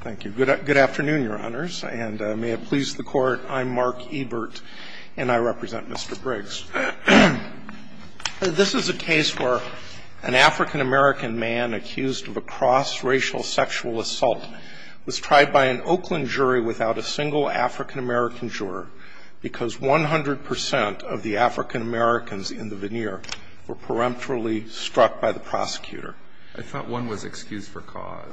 Thank you. Good afternoon, Your Honors, and may it please the Court, I'm Mark Ebert, and I represent Mr. Briggs. This is a case where an African-American man accused of a cross-racial sexual assault was tried by an Oakland jury without a single African-American juror because 100 percent of the African-Americans in the veneer were peremptorily struck by the prosecutor. I thought one was excused for cause.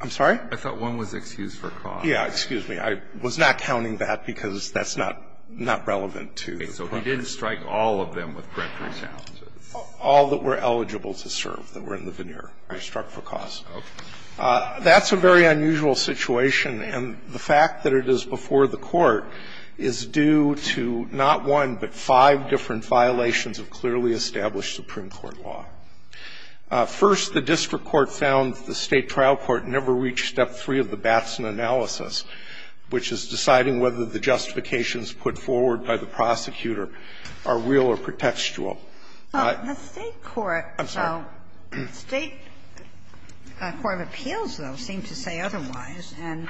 I'm sorry? I thought one was excused for cause. Yeah, excuse me. I was not counting that because that's not relevant to the problem. Okay. So he didn't strike all of them with peremptory challenges? All that were eligible to serve that were in the veneer were struck for cause. Okay. That's a very unusual situation, and the fact that it is before the Court is due to not one, but five different violations of clearly established Supreme Court law. First, the district court found the State trial court never reached Step 3 of the Batson analysis, which is deciding whether the justifications put forward by the prosecutor are real or pretextual. The State court, though, State Court of Appeals, though, seemed to say otherwise. And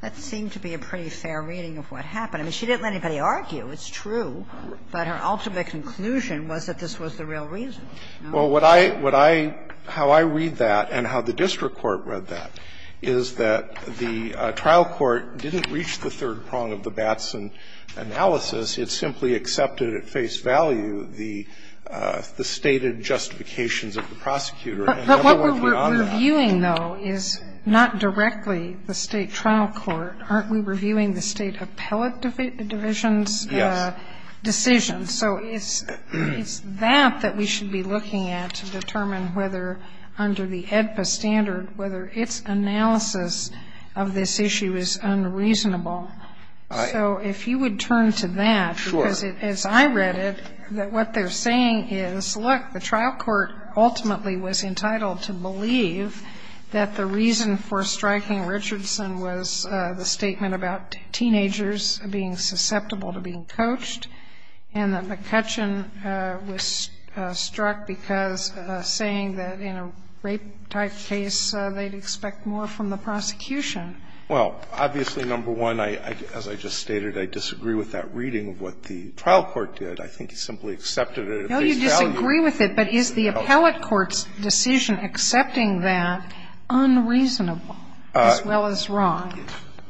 that seemed to be a pretty fair reading of what happened. I mean, she didn't let anybody argue. It's true. But her ultimate conclusion was that this was the real reason. Well, what I, what I, how I read that and how the district court read that is that the trial court didn't reach the third prong of the Batson analysis. It simply accepted at face value the stated justifications of the prosecutor and never went beyond that. But what we're reviewing, though, is not directly the State trial court. Aren't we reviewing the State appellate division's decisions? Yes. So it's, it's that that we should be looking at to determine whether under the AEDPA standard, whether its analysis of this issue is unreasonable. So if you would turn to that. Sure. Because as I read it, that what they're saying is, look, the trial court ultimately was entitled to believe that the reason for striking Richardson was the statement about teenagers being susceptible to being coached and that McCutcheon was struck because saying that in a rape-type case, they'd expect more from the prosecution. Well, obviously, number one, I, as I just stated, I disagree with that reading of what the trial court did. I think he simply accepted it at face value. No, you disagree with it. But is the appellate court's decision accepting that unreasonable as well as wrong?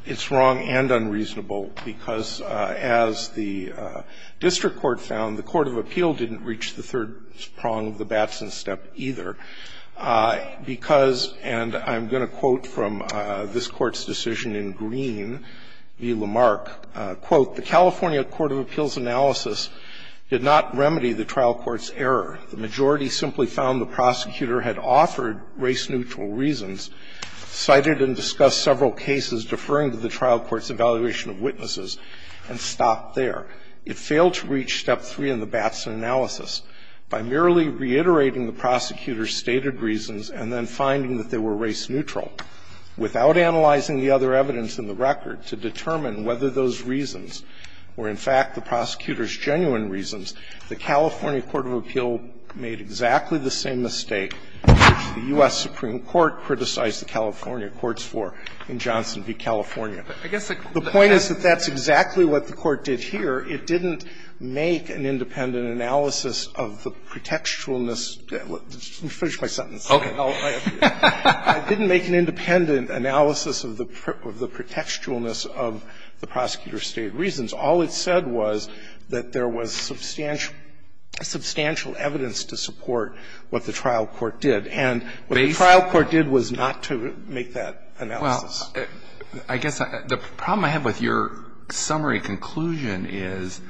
It's wrong and unreasonable, because as the district court found, the court of appeal didn't reach the third prong of the Batson step either, because, and I'm going to quote from this Court's decision in Green v. Lamarck, quote, "'The California court of appeals analysis did not remedy the trial court's error. The majority simply found the prosecutor had offered race-neutral reasons, cited and discussed several cases deferring to the trial court's evaluation of witnesses, and stopped there. It failed to reach step three in the Batson analysis by merely reiterating the prosecutor's stated reasons and then finding that they were race-neutral. Without analyzing the other evidence in the record to determine whether those reasons were in fact the prosecutor's genuine reasons, the California court of appeal made exactly the same mistake which the U.S. Supreme Court criticized the California courts for in Johnson v. California.'" The point is that that's exactly what the court did here. It didn't make an independent analysis of the pretextualness. Let me finish my sentence. I didn't make an independent analysis of the pretextualness of the prosecutor's stated reasons. All it said was that there was substantial evidence to support what the trial court did. And what the trial court did was not to make that analysis. Well, I guess the problem I have with your summary conclusion is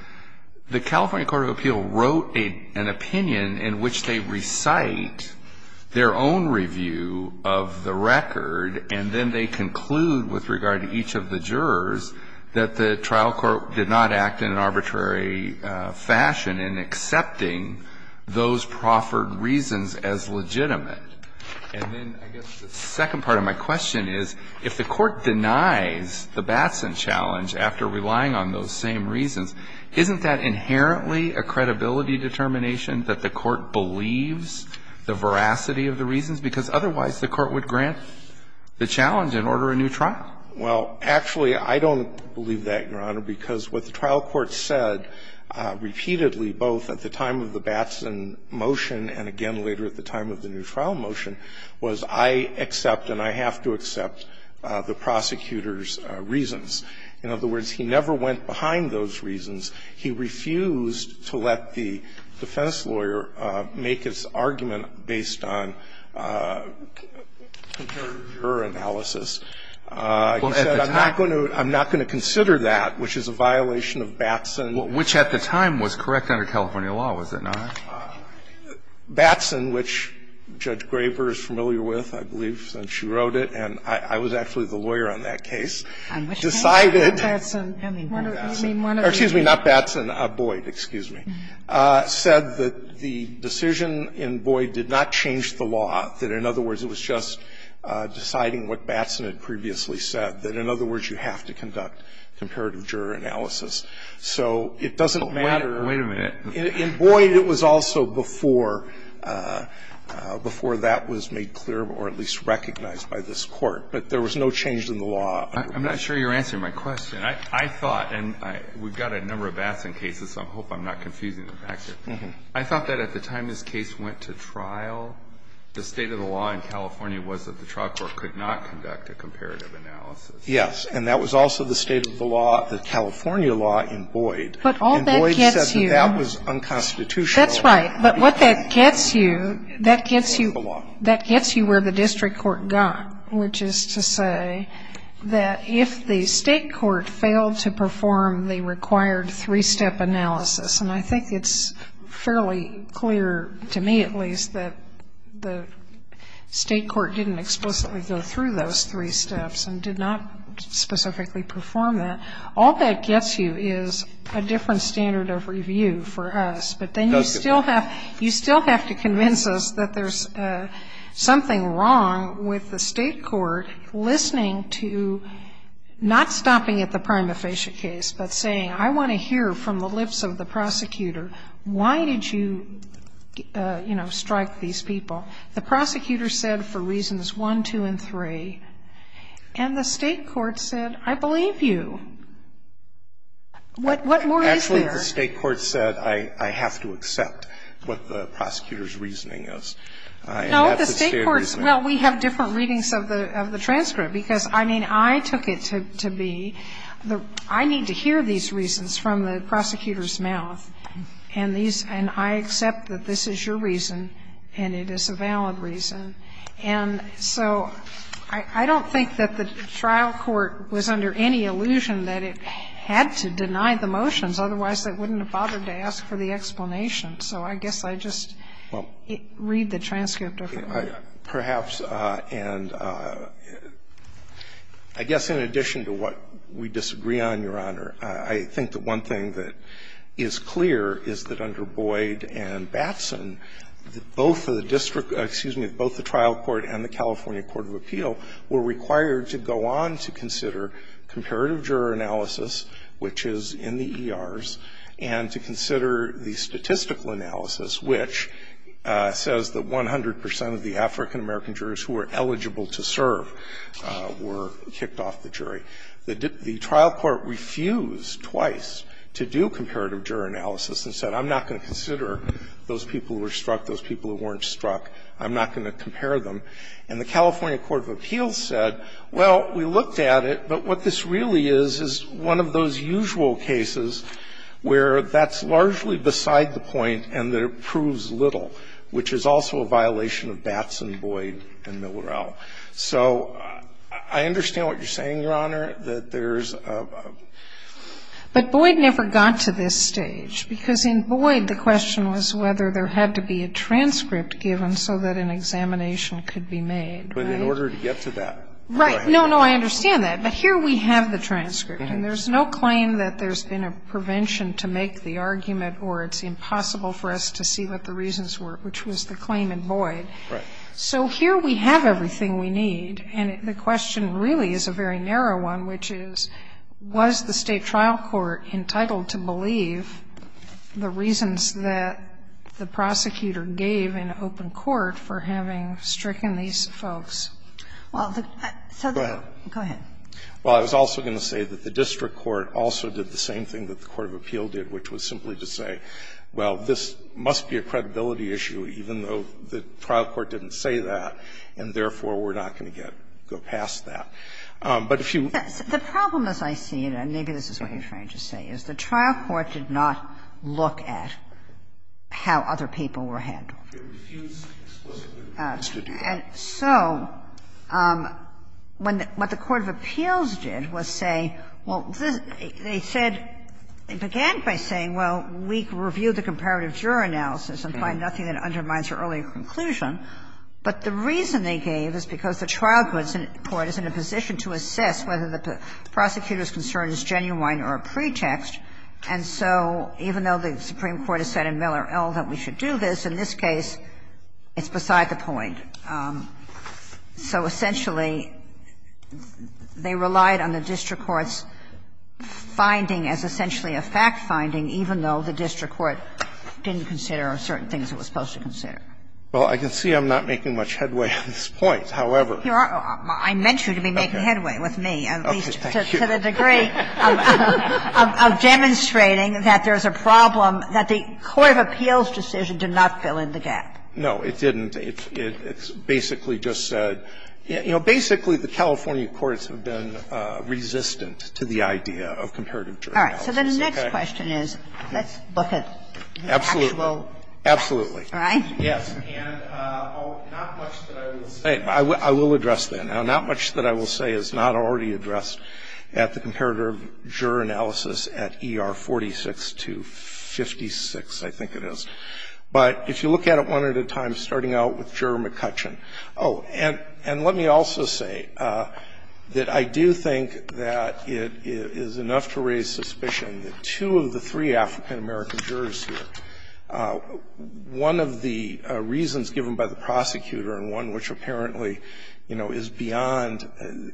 the California court of appeal wrote an opinion in which they recite their own review of the record, and then they conclude with regard to each of the jurors that the trial court did not act in an arbitrary fashion in accepting those proffered reasons as legitimate. And then I guess the second part of my question is, if the court denies the Batson challenge after relying on those same reasons, isn't that inherently a credibility determination that the court believes the veracity of the reasons? Because otherwise the court would grant the challenge and order a new trial. Well, actually, I don't believe that, Your Honor, because what the trial court said repeatedly, both at the time of the Batson motion and again later at the time of the new trial motion, was I accept and I have to accept the prosecutor's reasons. In other words, he never went behind those reasons. He refused to let the defense lawyer make his argument based on juror analysis. He said, I'm not going to consider that, which is a violation of Batson. Which at the time was correct under California law, was it not? Batson, which Judge Graber is familiar with, I believe, since she wrote it, and I was actually the lawyer on that case, decided that Batson, excuse me, not Batson, Boyd, excuse me, said that the decision in Boyd did not change the law, that in other words, you have to conduct comparative juror analysis. So it doesn't matter. Alito, wait a minute. In Boyd, it was also before that was made clear or at least recognized by this court. But there was no change in the law. I'm not sure you're answering my question. I thought, and we've got a number of Batson cases, so I hope I'm not confusing the facts here. I thought that at the time this case went to trial, the state of the law in California was that the trial court could not conduct a comparative analysis. Yes. And that was also the state of the law, the California law in Boyd. And Boyd says that that was unconstitutional. That's right. But what that gets you, that gets you where the district court got, which is to say that if the state court failed to perform the required three-step analysis, and I think it's fairly clear, to me at least, that the state court did not perform those three steps and did not specifically perform that, all that gets you is a different standard of review for us. But then you still have to convince us that there's something wrong with the state court listening to, not stopping at the prima facie case, but saying, I want to hear from the lips of the prosecutor, why did you, you know, strike these people? The prosecutor said for reasons one, two, and three. And the state court said, I believe you. What more is there? Actually, the state court said, I have to accept what the prosecutor's reasoning is. And that's the standard reasoning. No, the state court's, well, we have different readings of the transcript, because, I mean, I took it to be, I need to hear these reasons from the prosecutor's reason, and it is a valid reason. And so I don't think that the trial court was under any illusion that it had to deny the motions, otherwise, they wouldn't have bothered to ask for the explanation. So I guess I just read the transcript differently. Perhaps, and I guess in addition to what we disagree on, Your Honor, I think the one thing that is clear is that under Boyd and Batson, both of the district, excuse me, both the trial court and the California Court of Appeal were required to go on to consider comparative juror analysis, which is in the ERs, and to consider the statistical analysis, which says that 100 percent of the African-American jurors who are eligible to serve were kicked off the jury. The trial court refused twice to do comparative juror analysis and said, I'm not going to consider those people who were struck, those people who weren't struck, I'm not going to compare them. And the California Court of Appeals said, well, we looked at it, but what this really is is one of those usual cases where that's largely beside the point and that it proves little, which is also a violation of Batson, Boyd, and Millerell. So I understand what you're saying, Your Honor, that there's a ---- But Boyd never got to this stage, because in Boyd the question was whether there had to be a transcript given so that an examination could be made, right? But in order to get to that. Right. No, no, I understand that. But here we have the transcript, and there's no claim that there's been a prevention to make the argument or it's impossible for us to see what the reasons were, which was the claim in Boyd. Right. So here we have everything we need, and the question really is a very narrow one, which is, was the State trial court entitled to believe the reasons that the prosecutor gave in open court for having stricken these folks? Well, the ---- Go ahead. Go ahead. Well, I was also going to say that the district court also did the same thing that the court of appeal did, which was simply to say, well, this must be a credibility issue, even though the trial court didn't say that, and therefore we're not going to get to go past that. But if you ---- The problem, as I see it, and maybe this is what you're trying to say, is the trial court did not look at how other people were handled. And so when the ---- what the court of appeals did was say, well, this ---- they said they began by saying, well, we reviewed the comparative juror analysis and find nothing that undermines your earlier conclusion, but the reason they gave is because the trial court is in a position to assess whether the prosecutor's concern is genuine or a pretext. And so even though the Supreme Court has said in Miller L. that we should do this, in this case it's beside the point. So essentially, they relied on the district court's finding as essentially a fact-finding, even though the district court didn't consider certain things it was supposed to consider. Well, I can see I'm not making much headway on this point. However, here are ---- I meant you to be making headway with me, at least to the degree of demonstrating that there's a problem, that the court of appeals decision did not fill in the gap. No, it didn't. It basically just said, you know, basically the California courts have been resistant to the idea of comparative juror analysis. Okay? All right. So the next question is, let's look at the actual facts. Absolutely. Absolutely. All right? Yes. And not much that I will say ---- I will address that. Now, not much that I will say is not already addressed at the comparative juror analysis at ER 46 to 56, I think it is. But if you look at it one at a time, starting out with Juror McCutcheon. Oh, and let me also say that I do think that it is enough to raise suspicion that two of the three African-American jurors here, one of the reasons given by the prosecutor, and one which apparently, you know, is beyond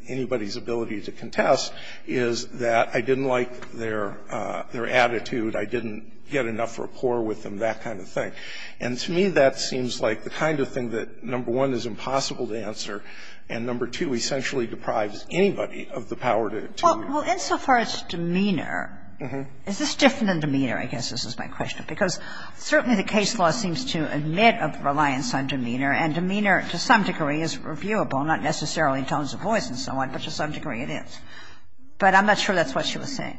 anybody's ability to contest, is that I didn't like their attitude, I didn't get enough rapport with them, that kind of thing. And to me, that seems like the kind of thing that, number one, is impossible to answer, and number two, essentially deprives anybody of the power to do it. Well, insofar as demeanor, is this different than demeanor? I guess this is my question, because certainly the case law seems to admit a reliance on demeanor, and demeanor, to some degree, is reviewable, not necessarily in terms of voice and so on, but to some degree it is. But I'm not sure that's what she was saying.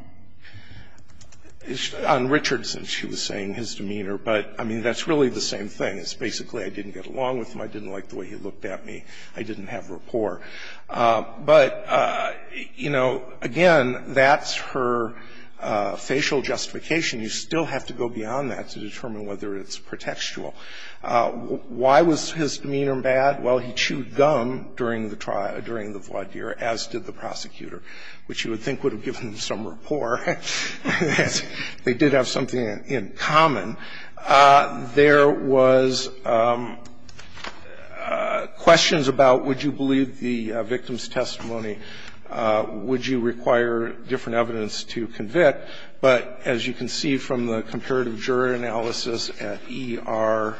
On Richardson, she was saying his demeanor, but, I mean, that's really the same thing, is basically I didn't get along with him, I didn't like the way he looked at me, I didn't have rapport. But, you know, again, that's her facial justification. You still have to go beyond that to determine whether it's pretextual. Why was his demeanor bad? Well, he chewed gum during the trial, during the voir dire, as did the prosecutor, which you would think would have given him some rapport. They did have something in common. There was questions about would you believe the victim's testimony, would you require different evidence to convict. But as you can see from the comparative juror analysis at ER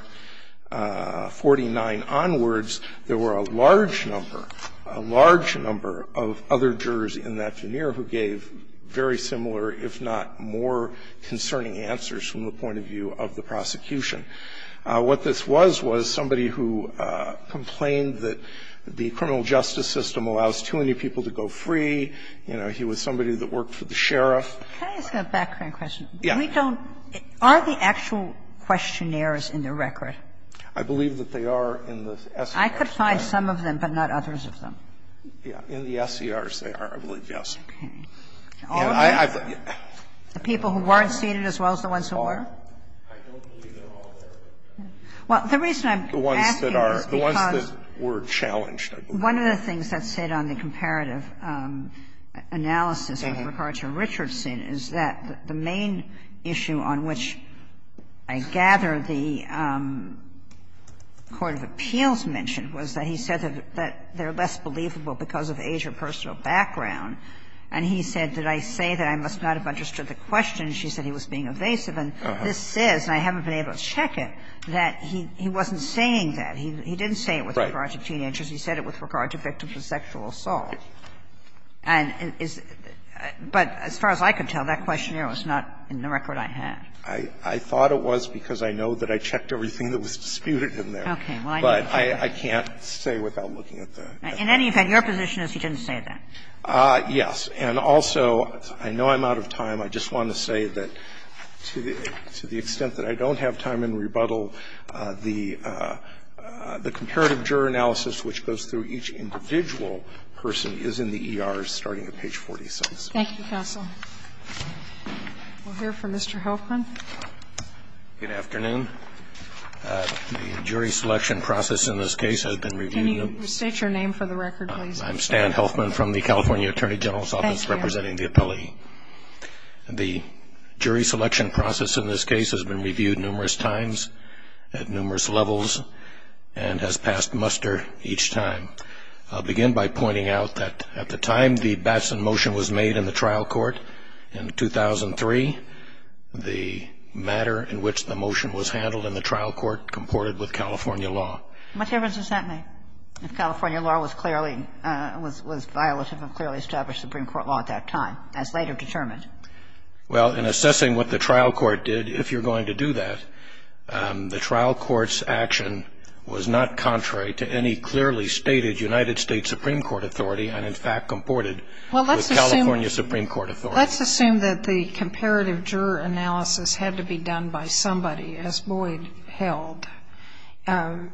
49 onwards, there were a large number, a large number of other jurors in that veneer who gave very similar, if not more concerning answers from the point of view of the prosecution. What this was was somebody who complained that the criminal justice system allows too many people to go free. You know, he was somebody that worked for the sheriff. Can I ask a background question? Yeah. We don't – are the actual questionnaires in the record? I believe that they are in the S. I could find some of them, but not others of them. Yeah. In the SERs, they are, I believe, yes. Okay. All of them? The people who weren't seated as well as the ones who were? I don't believe they're all there. Well, the reason I'm asking is because the ones that are – the ones that were challenged, I believe. One of the things that's said on the comparative analysis with regard to Richardson is that the main issue on which I gather the court of appeals mentioned was that he said that they're less believable because of age or personal background. And he said, did I say that? I must not have understood the question. She said he was being evasive. And this says, and I haven't been able to check it, that he wasn't saying that. He didn't say it with regard to teenagers. He said it with regard to victims of sexual assault. And is – but as far as I could tell, that questionnaire was not in the record I had. I thought it was because I know that I checked everything that was disputed in there. Okay. Well, I need to check it. But I can't say without looking at the – In any event, your position is he didn't say that. Yes. And also, I know I'm out of time. I just want to say that to the extent that I don't have time in rebuttal, the comparative juror analysis, which goes through each individual person, is in the E.R.s. starting at page 46. Thank you, counsel. We'll hear from Mr. Helfman. Good afternoon. The jury selection process in this case has been reviewed. Can you state your name for the record, please? I'm Stan Helfman from the California Attorney General's Office representing the appellee. Thank you. The jury selection process in this case has been reviewed numerous times at numerous levels and has passed muster each time. I'll begin by pointing out that at the time the Batson motion was made in the trial court in 2003, the matter in which the motion was handled in the trial court comported with California law. What difference does that make if California law was clearly – was violative and clearly established Supreme Court law at that time, as later determined? Well, in assessing what the trial court did, if you're going to do that, the trial court's action was not contrary to any clearly stated United States Supreme Court authority and, in fact, comported with California Supreme Court authority. Well, let's assume – let's assume that the comparative juror analysis had to be done by somebody, as Boyd held. And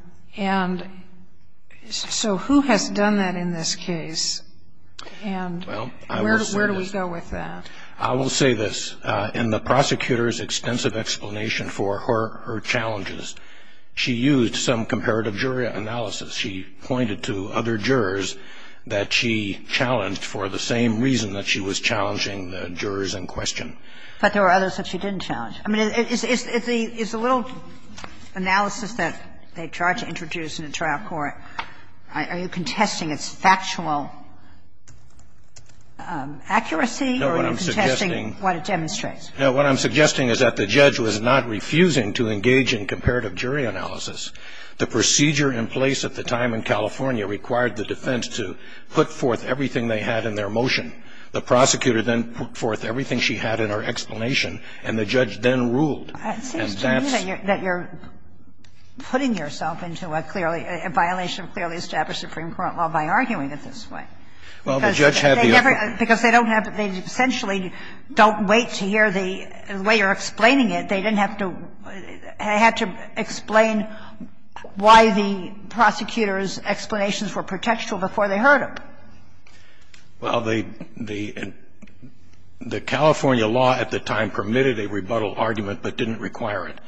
so who has done that in this case and where do we go with that? I will say this. In the prosecutor's extensive explanation for her challenges, she used some comparative juror analysis. She pointed to other jurors that she challenged for the same reason that she was challenging the jurors in question. But there were others that she didn't challenge. I mean, is the little analysis that they tried to introduce in the trial court, are you contesting its factual accuracy? Or are you contesting what it demonstrates? No. What I'm suggesting is that the judge was not refusing to engage in comparative jury analysis. The procedure in place at the time in California required the defense to put forth everything they had in their motion. The prosecutor then put forth everything she had in her explanation, and the judge then ruled. And that's the reason that you're putting yourself into a clearly – a violation Well, the judge had the authority. Because they don't have – they essentially don't wait to hear the way you're explaining it. They didn't have to – they had to explain why the prosecutor's explanations were protectual before they heard them. Well, the California law at the time permitted a rebuttal argument but didn't require it.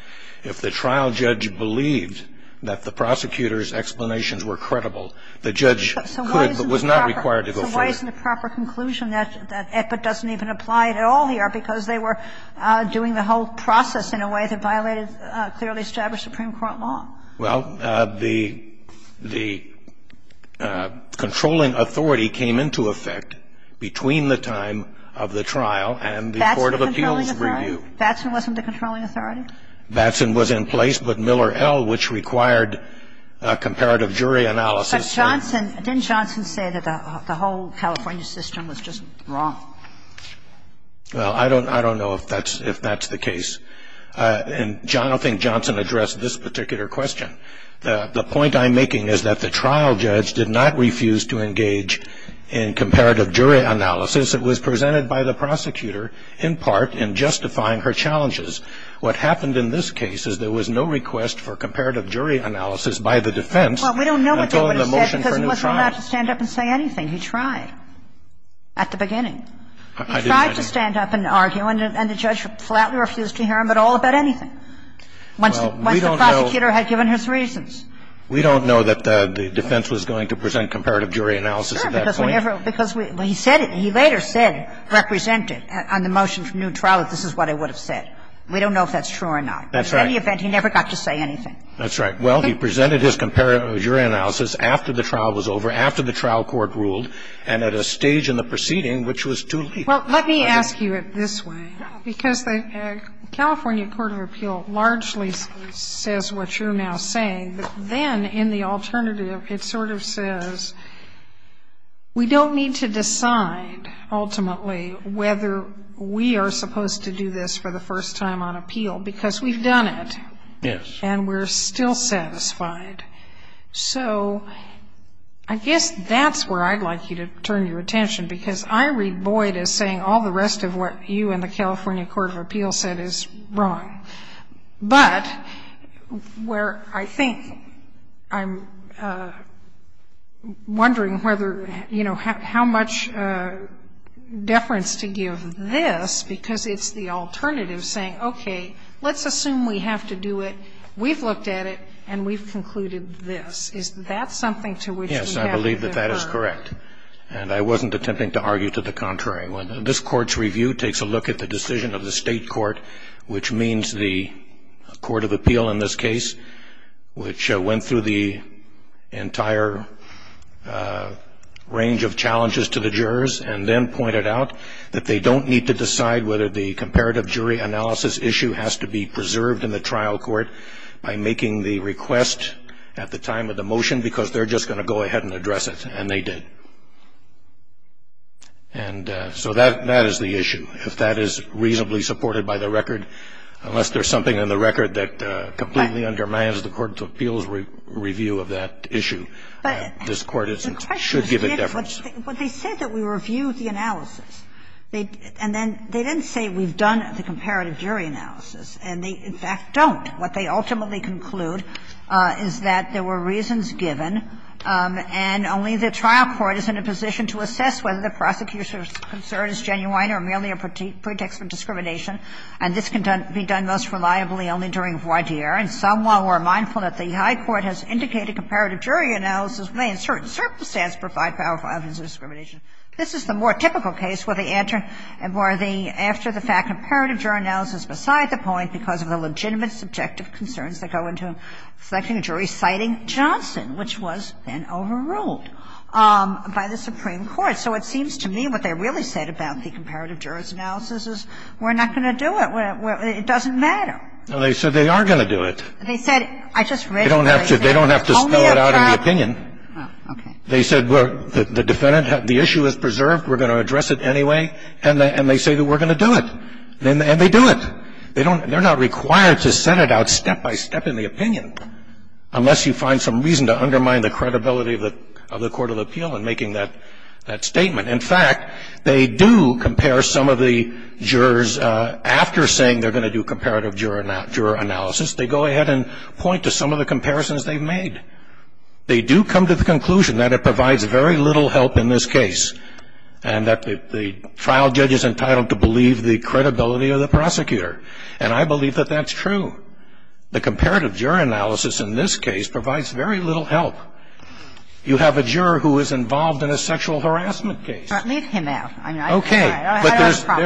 If the trial judge believed that the prosecutor's explanations were credible, the judge could but was not required to go forward. It's the same argument, right? any record to show me that the prosecutor is a mentally sophisticated man. But why is it a proper conclusion that EPIT doesn't even apply at all here because they were doing the whole process in a way that violated clearly established Supreme Court law? Well the — the controlling authority came into effect between the time of the trial and the court of appeals. Batzen wasn't the controlling authority? Batzen was in place, but Miller L., which required a comparative jury analysis — But Johnson — didn't Johnson say that the whole California system was just wrong? Well, I don't — I don't know if that's — if that's the case. And I don't think Johnson addressed this particular question. The point I'm making is that the trial judge did not refuse to engage in comparative jury analysis. It was presented by the prosecutor, in part, in justifying her challenges. What happened in this case is there was no request for comparative jury analysis by the defense until the motion for new trial. Well, we don't know what they would have said because it wasn't allowed to stand up and say anything. He tried at the beginning. He tried to stand up and argue, and the judge flatly refused to hear him at all about anything once the prosecutor had given his reasons. We don't know that the defense was going to present comparative jury analysis at that point. Sure, because whenever — because we — he said it, he later said, represented on the motion for new trial that this is what I would have said. We don't know if that's true or not. That's right. But in any event, he never got to say anything. That's right. Well, he presented his comparative jury analysis after the trial was over, after the trial court ruled, and at a stage in the proceeding which was too late. Well, let me ask you it this way, because the California Court of Appeal largely says what you're now saying, but then in the alternative, it sort of says, we don't appeal, because we've done it, and we're still satisfied. So I guess that's where I'd like you to turn your attention, because I read Boyd as saying all the rest of what you and the California Court of Appeal said is wrong. But where I think I'm wondering whether, you know, how much deference to give this, because it's the alternative, saying, okay, let's assume we have to do it, we've looked at it, and we've concluded this. Is that something to which we have to defer? Yes, I believe that that is correct, and I wasn't attempting to argue to the contrary. This Court's review takes a look at the decision of the State court, which means the Court of Appeal in this case, which went through the entire range of challenges to the jurors, and then pointed out that they don't need to decide whether the comparative jury analysis issue has to be preserved in the trial court by making the request at the time of the motion, because they're just going to go ahead and address it, and they did. And so that is the issue. If that is reasonably supported by the record, unless there's something in the record that completely undermines the Court of Appeal's review of that issue, this Court should give it deference. And that's what they said when they said that we reviewed the analysis. And then they didn't say we've done the comparative jury analysis, and they, in fact, don't. What they ultimately conclude is that there were reasons given, and only the trial court is in a position to assess whether the prosecutor's concern is genuine or merely a pretext for discrimination, and this can be done most reliably only during voir dire, and some, while we're mindful that the high court has indicated that the comparative jury analysis may in certain circumstances provide powerful evidence of discrimination, this is the more typical case where they enter, where they, after the fact, comparative jury analysis beside the point because of the legitimate subjective concerns that go into selecting a jury, citing Johnson, which was then overruled by the Supreme Court. So it seems to me what they really said about the comparative jury analysis is we're not going to do it. It doesn't matter. And they said they are going to do it. They said they don't have to spell it out in the opinion. They said the defendant, the issue is preserved, we're going to address it anyway, and they say that we're going to do it. And they do it. They don't they're not required to set it out step by step in the opinion, unless you find some reason to undermine the credibility of the Court of Appeal in making that statement. In fact, they do compare some of the jurors after saying they're going to do comparative jury analysis. They go ahead and point to some of the comparisons they've made. They do come to the conclusion that it provides very little help in this case, and that the trial judge is entitled to believe the credibility of the prosecutor. And I believe that that's true. The comparative jury analysis in this case provides very little help. You have a juror who is involved in a sexual harassment case. But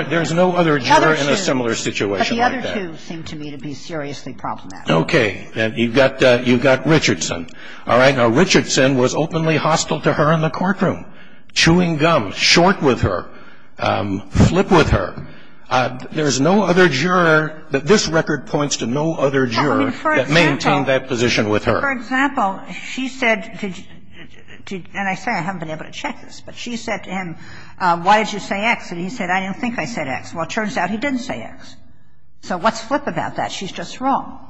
there's no other juror in a similar situation like that. And that's the point. It's a different case. And the two seem to me to be seriously problematic. Roberts. Okay. You've got Richardson. All right. Now, Richardson was openly hostile to her in the courtroom, chewing gum, short with her, flip with her. There's no other juror that this record points to no other juror that maintained that position with her. For example, she said to, and I say I haven't been able to check this, but she said to him, why did you say X? And he said, I don't think I said X. Well, it turns out he didn't say X. So what's flip about that? She's just wrong.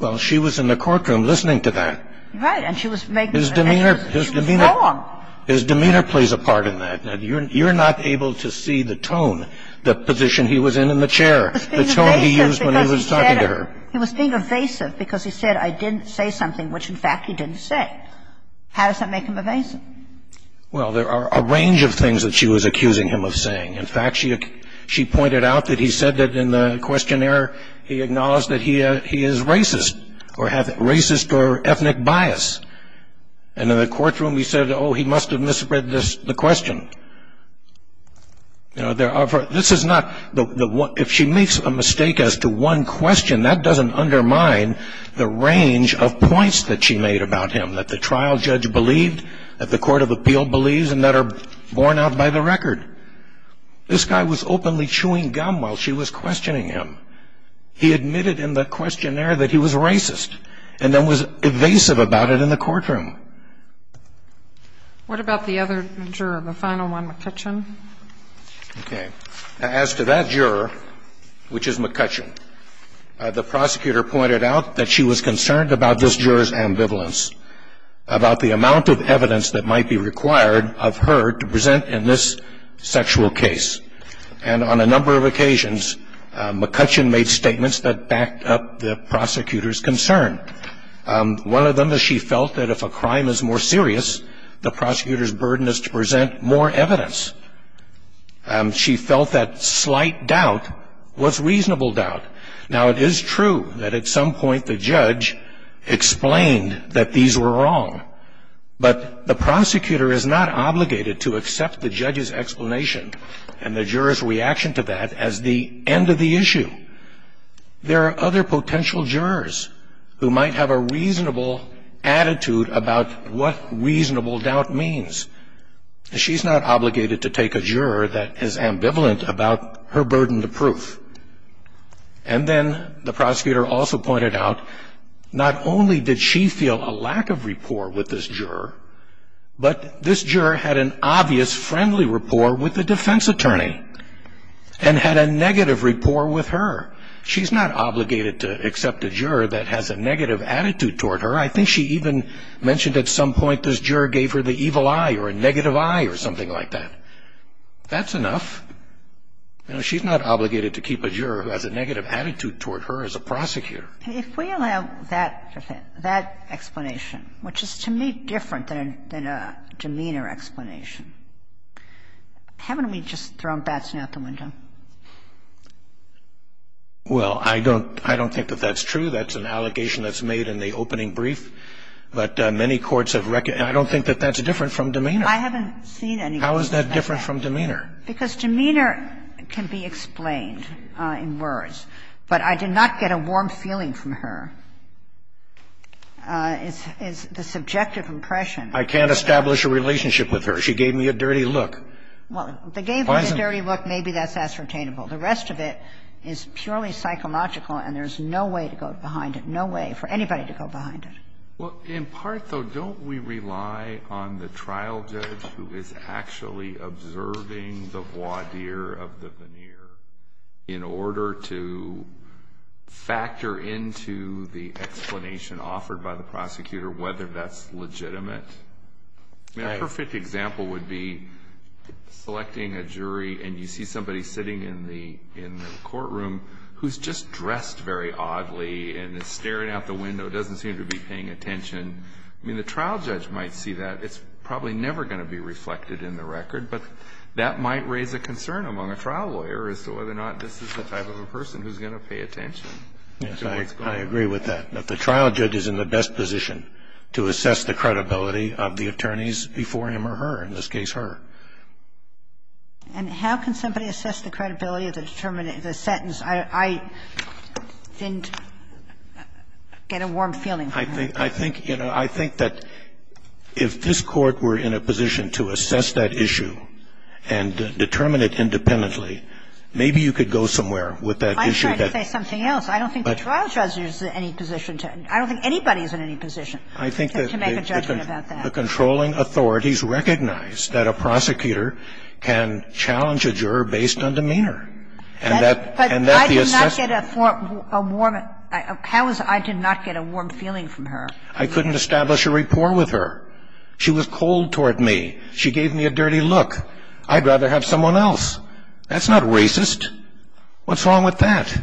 Well, she was in the courtroom listening to that. Right. And she was making. His demeanor. His demeanor. His demeanor plays a part in that. You're not able to see the tone, the position he was in in the chair, the tone he used when he was talking to her. He was being evasive because he said, I didn't say something which, in fact, he didn't say. How does that make him evasive? Well, there are a range of things that she was accusing him of saying. In fact, she pointed out that he said that in the questionnaire, he acknowledged that he is racist or have racist or ethnic bias. And in the courtroom, he said, oh, he must have misread the question. You know, there are for this is not the if she makes a mistake as to one question that doesn't undermine the range of points that she made about him, that the trial judge believed that the court of appeal believes and that are borne out by the record. This guy was openly chewing gum while she was questioning him. He admitted in the questionnaire that he was racist and then was evasive about it in the courtroom. What about the other juror, the final one, McCutcheon? Okay. As to that juror, which is McCutcheon, the prosecutor pointed out that she was concerned about this juror's ambivalence, about the amount of evidence that might be required of her to present in this sexual case. And on a number of occasions, McCutcheon made statements that backed up the prosecutor's concern. One of them is she felt that if a crime is more serious, the prosecutor's burden is to present more evidence. She felt that slight doubt was reasonable doubt. Now, it is true that at some point the judge explained that these were wrong. But the prosecutor is not obligated to accept the judge's explanation and the juror's reaction to that as the end of the issue. There are other potential jurors who might have a reasonable attitude about what reasonable doubt means. She's not obligated to take a juror that is ambivalent about her burden of proof. And then the prosecutor also pointed out not only did she feel a lack of rapport with this juror, but this juror had an obvious friendly rapport with the defense attorney and had a negative rapport with her. She's not obligated to accept a juror that has a negative attitude toward her. I think she even mentioned at some point this juror gave her the evil eye or a negative eye or something like that. That's enough. You know, she's not obligated to keep a juror who has a negative attitude toward her as a prosecutor. If we allow that explanation, which is to me different than a demeanor explanation, haven't we just thrown Batson out the window? Well, I don't think that that's true. That's an allegation that's made in the opening brief. But many courts have recognized that. I don't think that that's different from demeanor. I haven't seen any cases like that. How is that different from demeanor? Because demeanor can be explained in words. But I did not get a warm feeling from her. It's the subjective impression. I can't establish a relationship with her. She gave me a dirty look. Well, they gave her a dirty look. Maybe that's ascertainable. The rest of it is purely psychological and there's no way to go behind it, no way for anybody to go behind it. Well, in part, though, don't we rely on the trial judge who is actually observing the voir dire of the veneer in order to factor into the explanation offered by the prosecutor whether that's legitimate? A perfect example would be selecting a jury and you see somebody sitting in the courtroom who's just dressed very oddly and is staring out the window, doesn't seem to be paying attention. I mean, the trial judge might see that. It's probably never going to be reflected in the record. But that might raise a concern among a trial lawyer as to whether or not this is the type of a person who's going to pay attention. Yes, I agree with that, that the trial judge is in the best position to assess the credibility of the attorneys before him or her, in this case her. And how can somebody assess the credibility of the sentence? I didn't get a warm feeling from that. I think, you know, I think that if this Court were in a position to assess that issue and determine it independently, maybe you could go somewhere with that issue. I'm trying to say something else. I don't think the trial judge is in any position to – I don't think anybody is in any position to make a judgment about that. The controlling authorities recognize that a prosecutor can challenge a juror based on demeanor, and that the assessment – But I did not get a warm – how is it I did not get a warm feeling from her? I couldn't establish a rapport with her. She was cold toward me. She gave me a dirty look. I'd rather have someone else. That's not racist. What's wrong with that?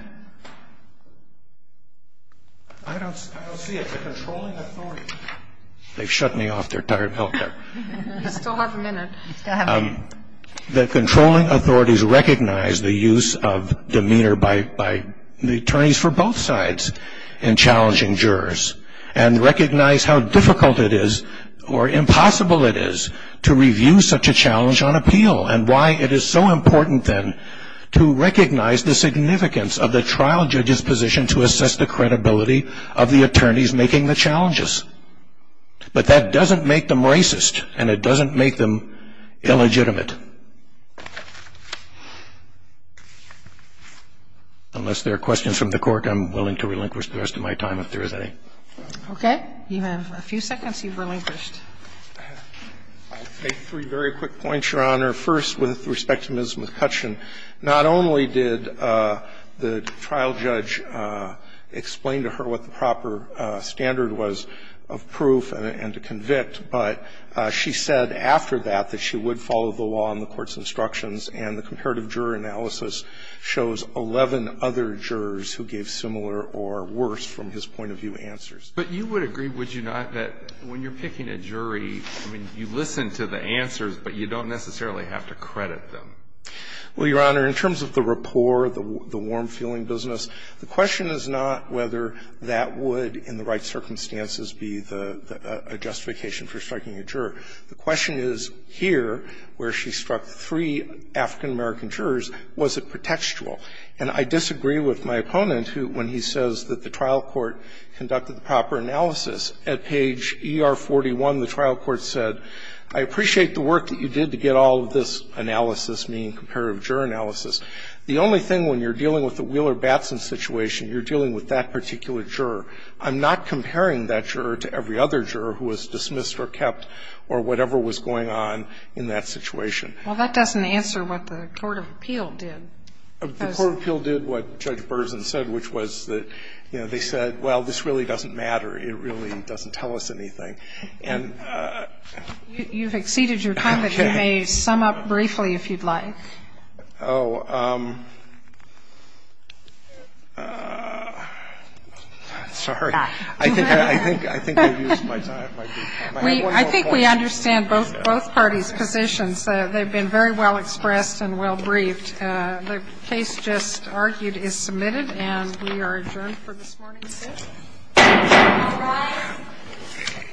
I don't see it. They've shut me off. They're tired of me out there. You still have a minute. The controlling authorities recognize the use of demeanor by the attorneys for both sides in challenging jurors and recognize how difficult it is or impossible it is to review such a challenge on appeal and why it is so important then to recognize the significance of the trial judge's position and to assess the credibility of the attorneys making the challenges. But that doesn't make them racist, and it doesn't make them illegitimate. Unless there are questions from the Court, I'm willing to relinquish the rest of my time if there is any. Okay. You have a few seconds. You've relinquished. I'll make three very quick points, Your Honor. First, with respect to Ms. McCutcheon, not only did the trial judge explain to her what the proper standard was of proof and to convict, but she said after that that she would follow the law and the Court's instructions, and the comparative juror analysis shows 11 other jurors who gave similar or worse, from his point of view, answers. But you would agree, would you not, that when you're picking a jury, I mean, you listen to the answers, but you don't necessarily have to credit them? Well, Your Honor, in terms of the rapport, the warm-feeling business, the question is not whether that would, in the right circumstances, be the – a justification for striking a juror. The question is here, where she struck three African-American jurors, was it pretextual? And I disagree with my opponent who, when he says that the trial court conducted the proper analysis, at page ER-41, the trial court said, I appreciate the work that you did to get all of this analysis, meaning comparative juror analysis. The only thing, when you're dealing with the Wheeler-Batson situation, you're dealing with that particular juror. I'm not comparing that juror to every other juror who was dismissed or kept or whatever was going on in that situation. Well, that doesn't answer what the court of appeal did. The court of appeal did what Judge Berzin said, which was that, you know, they said, well, this really doesn't matter. It really doesn't tell us anything. And – You've exceeded your time, but you may sum up briefly, if you'd like. Oh. Sorry. I think we've used my time. I think we understand both parties' positions. They've been very well expressed and well briefed. The case just argued is submitted, and we are adjourned for this morning's hearing. All rise.